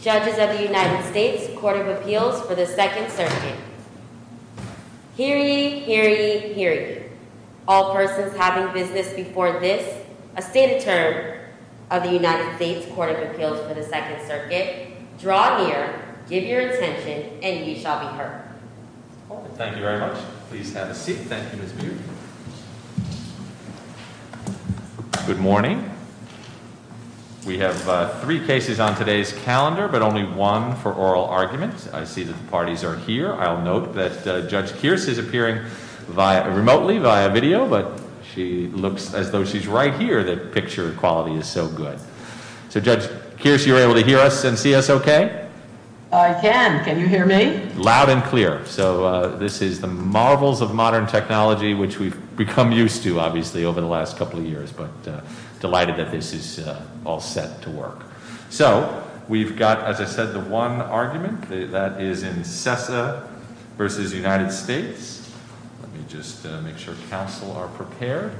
Judges of the United States Court of Appeals for the 2nd Circuit. Hear ye, hear ye, hear ye. All persons having business before this, a State Attorney of the United States Court of Appeals for the 2nd Circuit, draw near, give your attention, and ye shall be heard. I'll note that Judge Kearse is appearing remotely via video, but she looks as though she's right here, that picture quality is so good. So Judge Kearse, you're able to hear us and see us okay? I can, can you hear me? Loud and clear. So this is the marvels of modern technology, which we've become used to, obviously, over the last couple of years. But delighted that this is all set to work. So, we've got, as I said, the one argument, that is in Sessa versus United States. Let me just make sure council are prepared.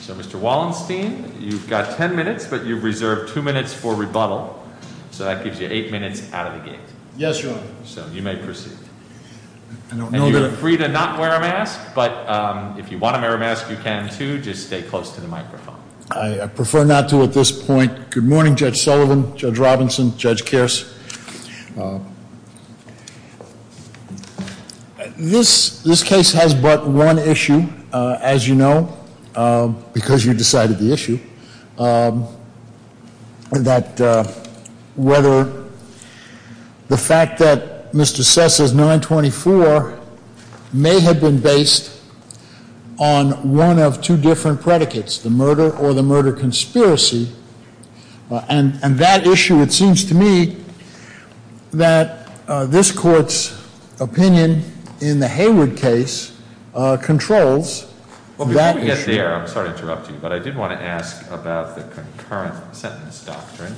So Mr. Wallenstein, you've got ten minutes, but you've reserved two minutes for rebuttal. So that gives you eight minutes out of the gate. Yes, Your Honor. So you may proceed. I don't know that- And you're free to not wear a mask, but if you want to wear a mask, you can too, just stay close to the microphone. I prefer not to at this point. Good morning, Judge Sullivan, Judge Robinson, Judge Kearse. This case has but one issue, as you know, because you decided the issue. That whether the fact that Mr. Sessa's 924 may have been based on one of two different predicates, the murder or the murder conspiracy, and that issue, it seems to me, that this court's opinion in the Hayward case controls that issue. Well, before we get there, I'm sorry to interrupt you, but I did want to ask about the concurrent sentence doctrine.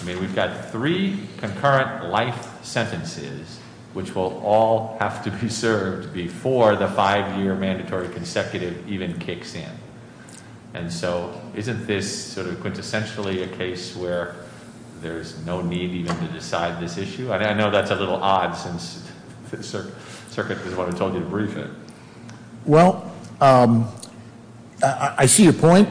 I mean, we've got three concurrent life sentences, which will all have to be served before the five year mandatory consecutive even kicks in. And so, isn't this sort of quintessentially a case where there's no need even to decide this issue? I know that's a little odd since the circuit is what I told you to brief it. Well, I see your point.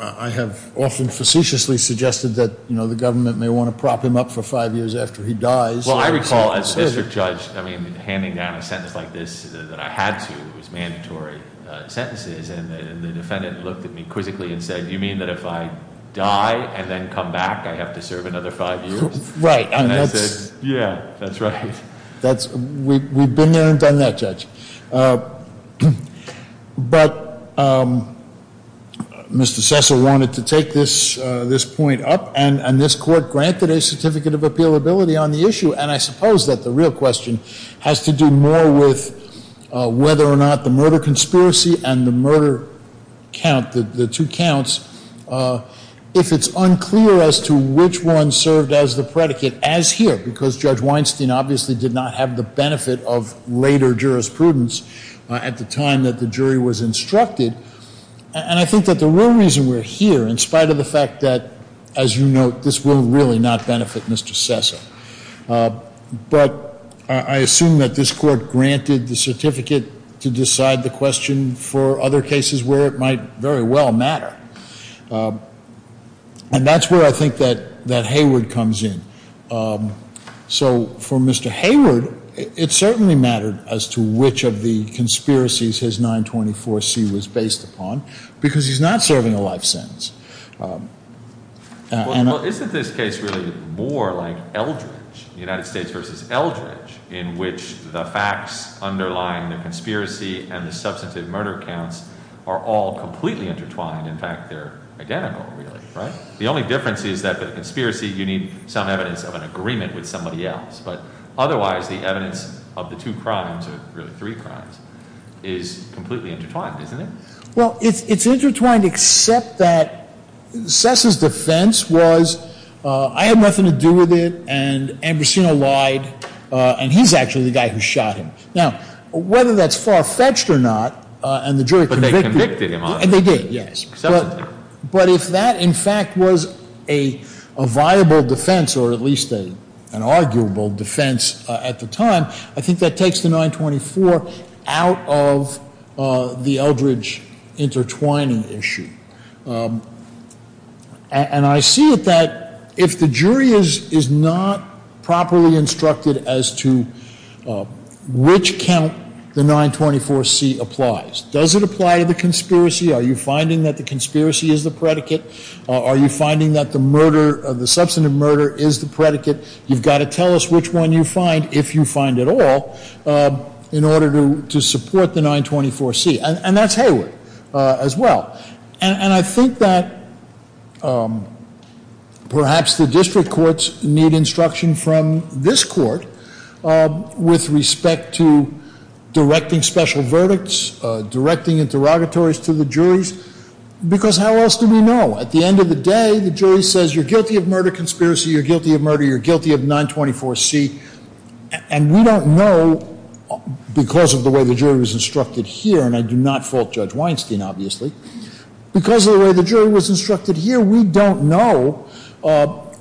I have often facetiously suggested that the government may want to prop him up for five years after he dies. Well, I recall as district judge, I mean, handing down a sentence like this that I had to, it was mandatory sentences, and the defendant looked at me quizzically and said, you mean that if I die and then come back, I have to serve another five years? Right, and that's- Yeah, that's right. That's, we've been there and done that, Judge. But Mr. Sessa wanted to take this point up, and this court granted a certificate of appealability on the issue, and I suppose that the real question has to do more with whether or not the murder conspiracy and the murder count, the two counts, if it's unclear as to which one served as the predicate as here. Because Judge Weinstein obviously did not have the benefit of later jurisprudence at the time that the jury was instructed. And I think that the real reason we're here, in spite of the fact that, as you note, this will really not benefit Mr. Sessa. But I assume that this court granted the certificate to decide the question for other cases where it might very well matter, and that's where I think that Hayward comes in. So for Mr. Hayward, it certainly mattered as to which of the conspiracies his 924C was based upon, because he's not serving a life sentence. Well, isn't this case really more like Eldridge, United States versus Eldridge, in which the facts underlying the conspiracy and the substantive murder counts are all completely intertwined? In fact, they're identical, really, right? The only difference is that for the conspiracy, you need some evidence of an agreement with somebody else. But otherwise, the evidence of the two crimes, or really three crimes, is completely intertwined, isn't it? Well, it's intertwined except that Sessa's defense was, I had nothing to do with it, and Ambrosino lied, and he's actually the guy who shot him. Now, whether that's far-fetched or not, and the jury convicted him- But they convicted him, obviously. They did, yes. But if that, in fact, was a viable defense, or at least an arguable defense at the time, I think that takes the 924 out of the Eldridge intertwining issue. And I see it that if the jury is not properly instructed as to which count the 924C applies, does it apply to the conspiracy? Are you finding that the conspiracy is the predicate? Are you finding that the murder, the substantive murder, is the predicate? You've got to tell us which one you find, if you find it all, in order to support the 924C, and that's Hayward as well. And I think that perhaps the district courts need instruction from this court with respect to directing special verdicts, directing interrogatories to the juries. Because how else do we know? At the end of the day, the jury says, you're guilty of murder conspiracy, you're guilty of murder, you're guilty of 924C. And we don't know, because of the way the jury was instructed here, and I do not fault Judge Weinstein, obviously. Because of the way the jury was instructed here, we don't know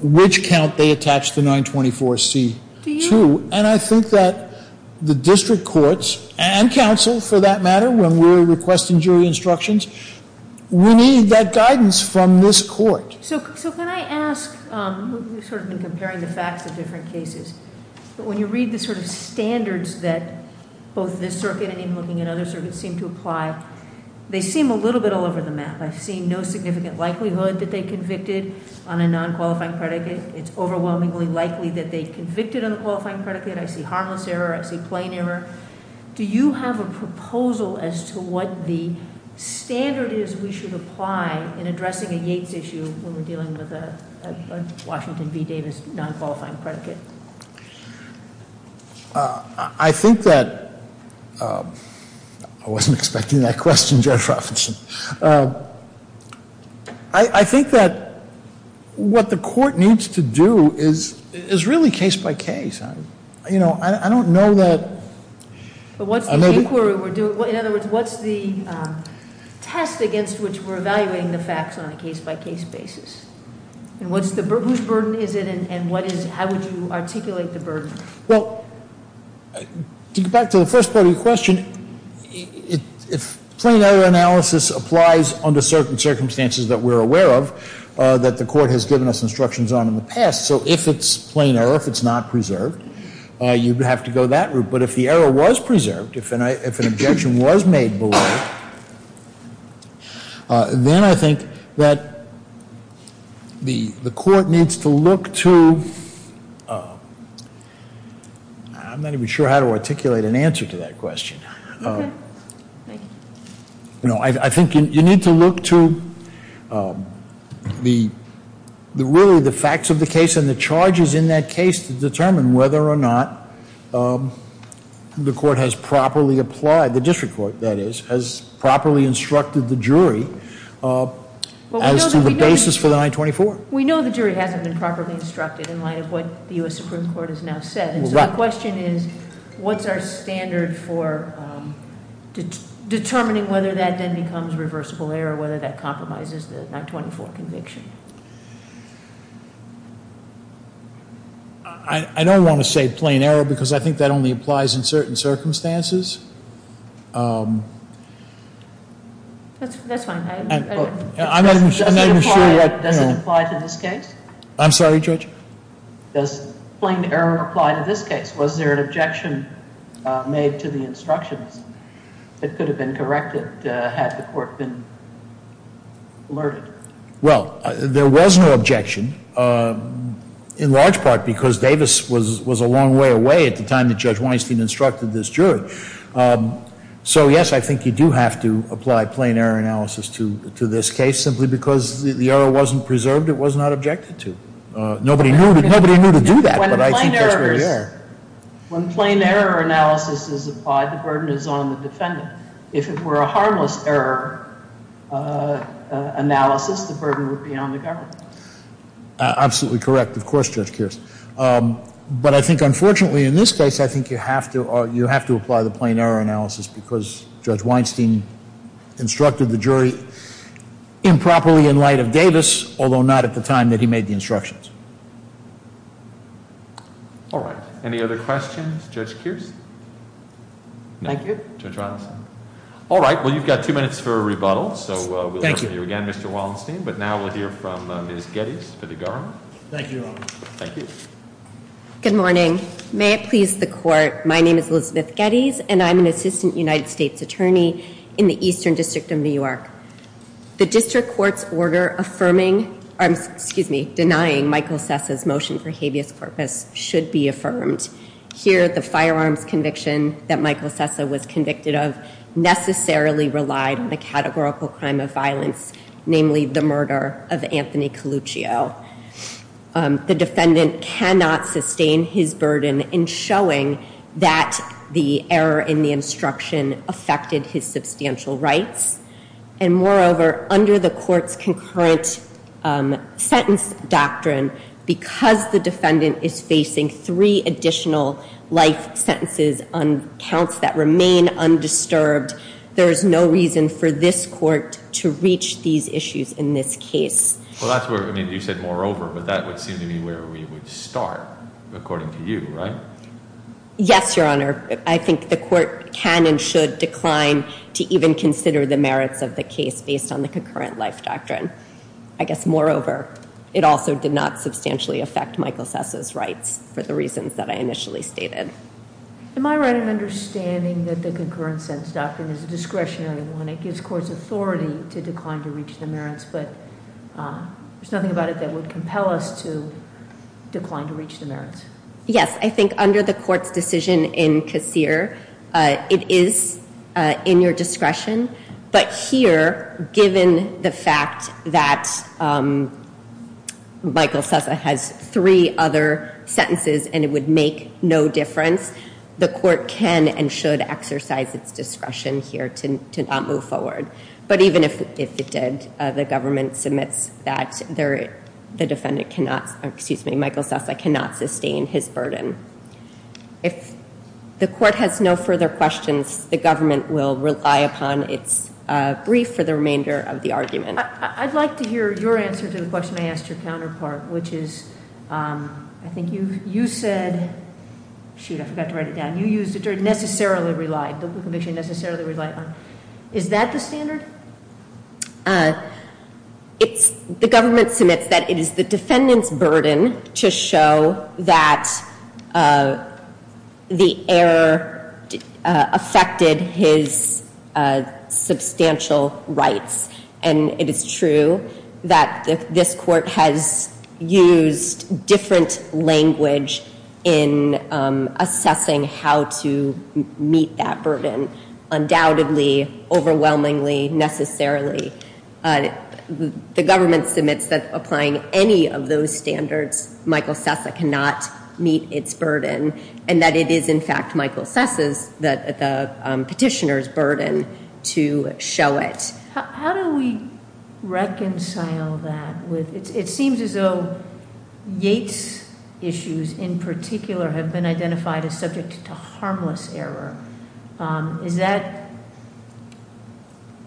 which count they attached the 924C to. And I think that the district courts, and counsel, for that matter, when we're requesting jury instructions, we need that guidance from this court. So can I ask, you've sort of been comparing the facts of different cases. But when you read the sort of standards that both this circuit and even looking at other circuits seem to apply, they seem a little bit all over the map. I've seen no significant likelihood that they convicted on a non-qualifying predicate. It's overwhelmingly likely that they convicted on a qualifying predicate. I see harmless error, I see plain error. Do you have a proposal as to what the standard is we should apply in addressing a Yates issue when we're dealing with a Washington v. Davis non-qualifying predicate? I think that, I wasn't expecting that question, Judge Robinson. I think that what the court needs to do is really case by case. I don't know that- But what's the inquiry we're doing? In other words, what's the test against which we're evaluating the facts on a case by case basis? And whose burden is it and how would you articulate the burden? Well, to get back to the first part of your question, if plain error analysis applies under certain circumstances that we're aware of, that the court has given us instructions on in the past. So, if it's plain error, if it's not preserved, you'd have to go that route. But if the error was preserved, if an objection was made below it, then I think that the court needs to look to, I'm not even sure how to articulate an answer to that question. Okay, thank you. I think you need to look to really the facts of the case and the charges in that case to determine whether or not the court has properly applied, the district court that is, has properly instructed the jury as to the basis for the 924. We know the jury hasn't been properly instructed in light of what the US Supreme Court has now said. And so the question is, what's our standard for determining whether that then becomes reversible error, whether that compromises the 924 conviction? I don't want to say plain error because I think that only applies in certain circumstances. That's fine. I'm not even sure that- Does it apply to this case? I'm sorry, Judge? Does plain error apply to this case? Was there an objection made to the instructions that could have been corrected had the court been alerted? Well, there was no objection, in large part because Davis was a long way away at the time that Judge Weinstein instructed this jury. So yes, I think you do have to apply plain error analysis to this case, simply because the error wasn't preserved, it was not objected to. Nobody knew to do that, but I think that's where you're at. When plain error analysis is applied, the burden is on the defendant. If it were a harmless error analysis, the burden would be on the government. Absolutely correct. Of course, Judge Kearse. But I think, unfortunately, in this case, I think you have to apply the plain error analysis Although not at the time that he made the instructions. All right, any other questions, Judge Kearse? Thank you. Judge Robinson? All right, well, you've got two minutes for a rebuttal, so we'll hear from you again, Mr. Wallenstein, but now we'll hear from Ms. Gettys for the government. Thank you, Your Honor. Thank you. Good morning. May it please the court, my name is Elizabeth Gettys, and I'm an assistant United States attorney in the Eastern District of New York. The district court's order denying Michael Sessa's motion for habeas corpus should be affirmed. Here, the firearms conviction that Michael Sessa was convicted of necessarily relied on the categorical crime of violence, namely the murder of Anthony Coluccio. The defendant cannot sustain his burden in showing that the error in the instruction affected his substantial rights. And moreover, under the court's concurrent sentence doctrine, because the defendant is facing three additional life sentences on counts that remain undisturbed, there is no reason for this court to reach these issues in this case. Well, that's where, I mean, you said moreover, but that would seem to be where we would start, according to you, right? Yes, Your Honor. I think the court can and should decline to even consider the merits of the case based on the concurrent life doctrine. I guess, moreover, it also did not substantially affect Michael Sessa's rights for the reasons that I initially stated. Am I right in understanding that the concurrent sentence doctrine is a discretionary one? It gives courts authority to decline to reach the merits, but there's nothing about it that would compel us to decline to reach the merits. Yes, I think under the court's decision in Casere, it is in your discretion. But here, given the fact that Michael Sessa has three other sentences and it would make no difference, the court can and should exercise its discretion here to not move forward. But even if it did, the government submits that the defendant cannot, excuse me, Michael Sessa cannot sustain his burden. If the court has no further questions, the government will rely upon its brief for the remainder of the argument. I'd like to hear your answer to the question I asked your counterpart, which is, I think you said, shoot, I forgot to write it down. You used the term necessarily relied, the conviction necessarily relied on. Is that the standard? It's, the government submits that it is the defendant's burden to show that the error affected his substantial rights. And it is true that this court has used different language in assessing how to meet that burden. Undoubtedly, overwhelmingly, necessarily. The government submits that applying any of those standards, Michael Sessa cannot meet its burden. And that it is, in fact, Michael Sessa's, the petitioner's, burden to show it. How do we reconcile that with, it seems as though Yates' issues in particular have been identified as subject to harmless error. Is that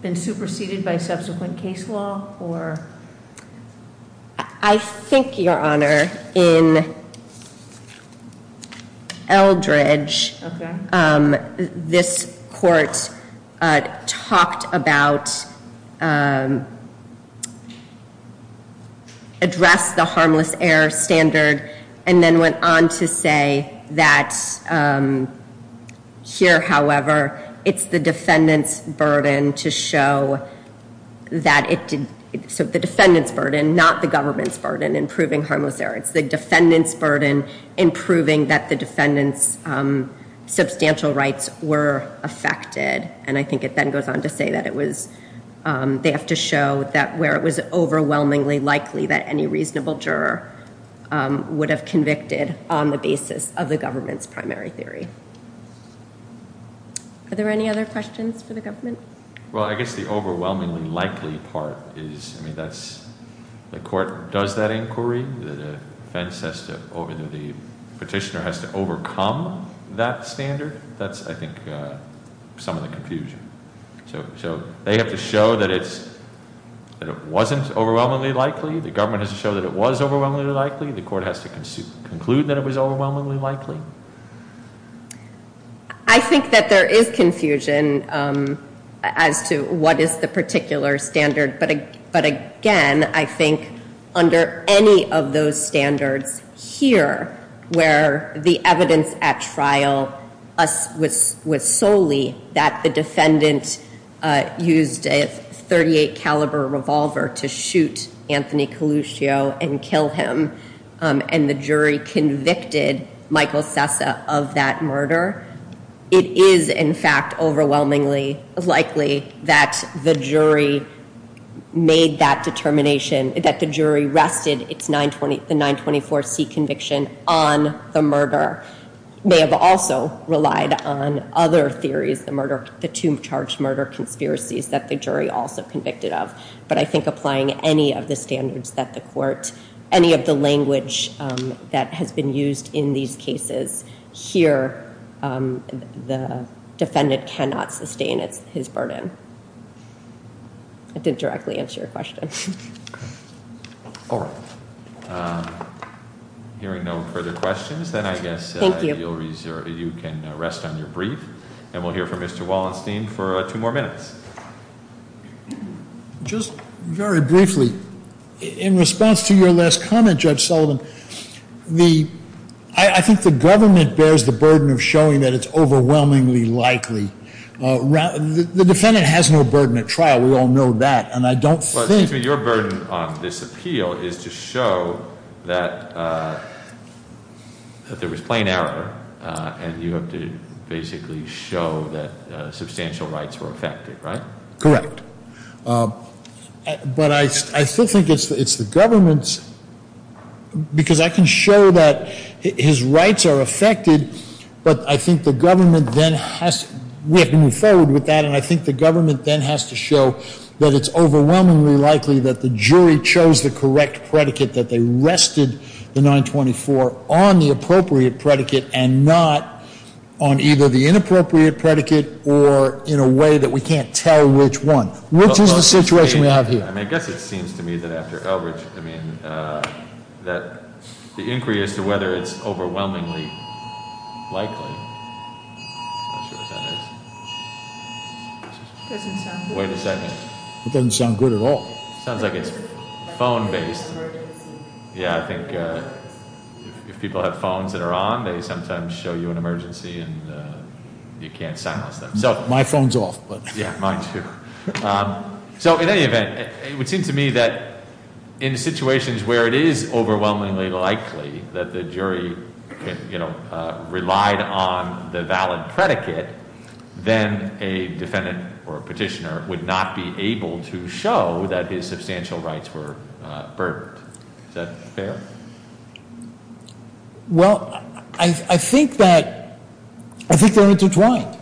been superseded by subsequent case law or? I think, Your Honor, in Eldridge, this court talked about addressing the harmless error standard. And then went on to say that here, however, it's the defendant's burden to show that it, so the defendant's burden, not the government's burden in proving harmless error. It's the defendant's burden in proving that the defendant's substantial rights were affected. And I think it then goes on to say that it was, they have to show that where it was overwhelmingly likely that any reasonable juror would have convicted on the basis of the government's primary theory. Are there any other questions for the government? Well, I guess the overwhelmingly likely part is, I mean, that's, the court does that inquiry. The defense has to, the petitioner has to overcome that standard. That's, I think, some of the confusion. So they have to show that it wasn't overwhelmingly likely. The government has to show that it was overwhelmingly likely. The court has to conclude that it was overwhelmingly likely. I think that there is confusion as to what is the particular standard. But again, I think under any of those standards here, where the evidence at trial was solely that the defendant used a 38 caliber revolver to shoot Anthony Coluscio and kill him, and the jury convicted Michael Sessa of that murder. It is, in fact, overwhelmingly likely that the jury made that determination, that the jury rested the 924C conviction on the murder. May have also relied on other theories, the tomb charge murder conspiracies that the jury also convicted of. But I think applying any of the standards that the court, any of the language that has been used in these cases. Here, the defendant cannot sustain his burden. I didn't directly answer your question. All right. Hearing no further questions, then I guess- Thank you. You can rest on your brief. And we'll hear from Mr. Wallenstein for two more minutes. Just very briefly, in response to your last comment, Judge Sullivan, I think the government bears the burden of showing that it's overwhelmingly likely. The defendant has no burden at trial. We all know that. And I don't think- Well, excuse me, your burden on this appeal is to show that there was plain error. And you have to basically show that substantial rights were affected, right? Correct. But I still think it's the government's, because I can show that his rights are affected. But I think the government then has, we have to move forward with that. And I think the government then has to show that it's overwhelmingly likely that the jury chose the correct predicate, that they rested the 924 on the appropriate predicate and not on either the inappropriate predicate or in a way that we can't tell which one. Which is the situation we have here? I mean, I guess it seems to me that after Elbridge, I mean, that the inquiry as to whether it's overwhelmingly likely. I'm not sure what that is. It doesn't sound good. Wait a second. It doesn't sound good at all. Sounds like it's phone based. Yeah, I think if people have phones that are on, they sometimes show you an emergency and you can't silence them. My phone's off. Yeah, mine too. So in any event, it would seem to me that in situations where it is overwhelmingly likely that the jury relied on the valid predicate, then a defendant or a petitioner would not be able to show that his substantial rights were burdened. Is that fair? Well, I think that, I think they're intertwined.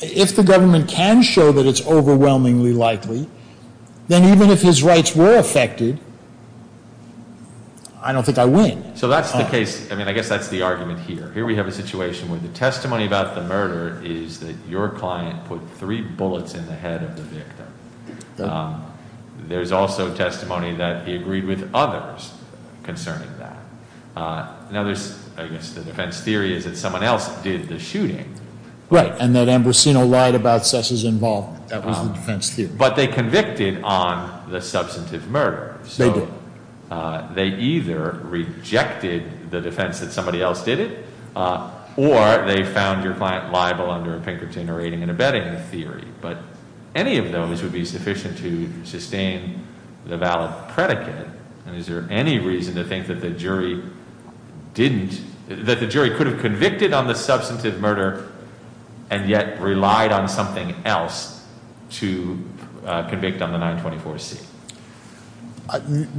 If the government can show that it's overwhelmingly likely, then even if his rights were affected, I don't think I win. So that's the case. I mean, I guess that's the argument here. Here we have a situation where the testimony about the murder is that your client put three bullets in the head of the victim. There's also testimony that he agreed with others concerning that. Now there's, I guess the defense theory is that someone else did the shooting. Right, and that Ambrosino lied about Sess's involvement. That was the defense theory. But they convicted on the substantive murder. So they either rejected the defense that somebody else did it, or they found your client liable under a Pinkerton rating and abetting theory. But any of those would be sufficient to sustain the valid predicate. And is there any reason to think that the jury didn't, that the jury could have convicted on the substantive murder. And yet relied on something else to convict on the 924C.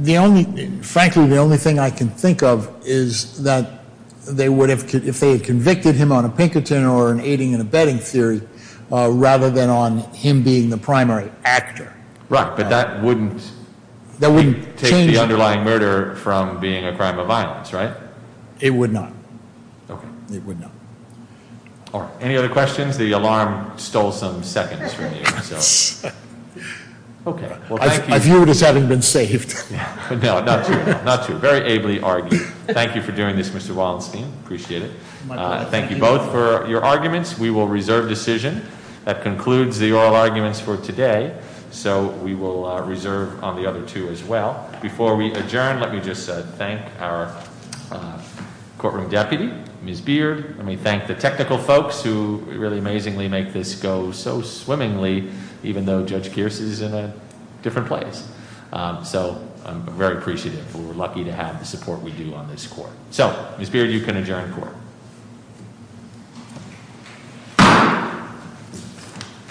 The only, frankly the only thing I can think of is that they would have, if they had convicted him on a Pinkerton or an aiding and abetting theory, rather than on him being the primary actor. Right, but that wouldn't- That wouldn't change the underlying murder from being a crime of violence, right? It would not. Okay. It would not. All right, any other questions? The alarm stole some seconds from you, so. Okay, well thank you. I view it as having been saved. No, not true, not true. Very ably argued. Thank you for doing this, Mr. Wallenstein, appreciate it. Thank you both for your arguments. We will reserve decision. That concludes the oral arguments for today. So we will reserve on the other two as well. Before we adjourn, let me just thank our courtroom deputy, Ms. Beard. Let me thank the technical folks who really amazingly make this go so swimmingly, even though Judge Kierse is in a different place. So I'm very appreciative, and we're lucky to have the support we do on this court. So, Ms. Beard, you can adjourn the court.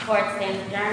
Court is adjourned.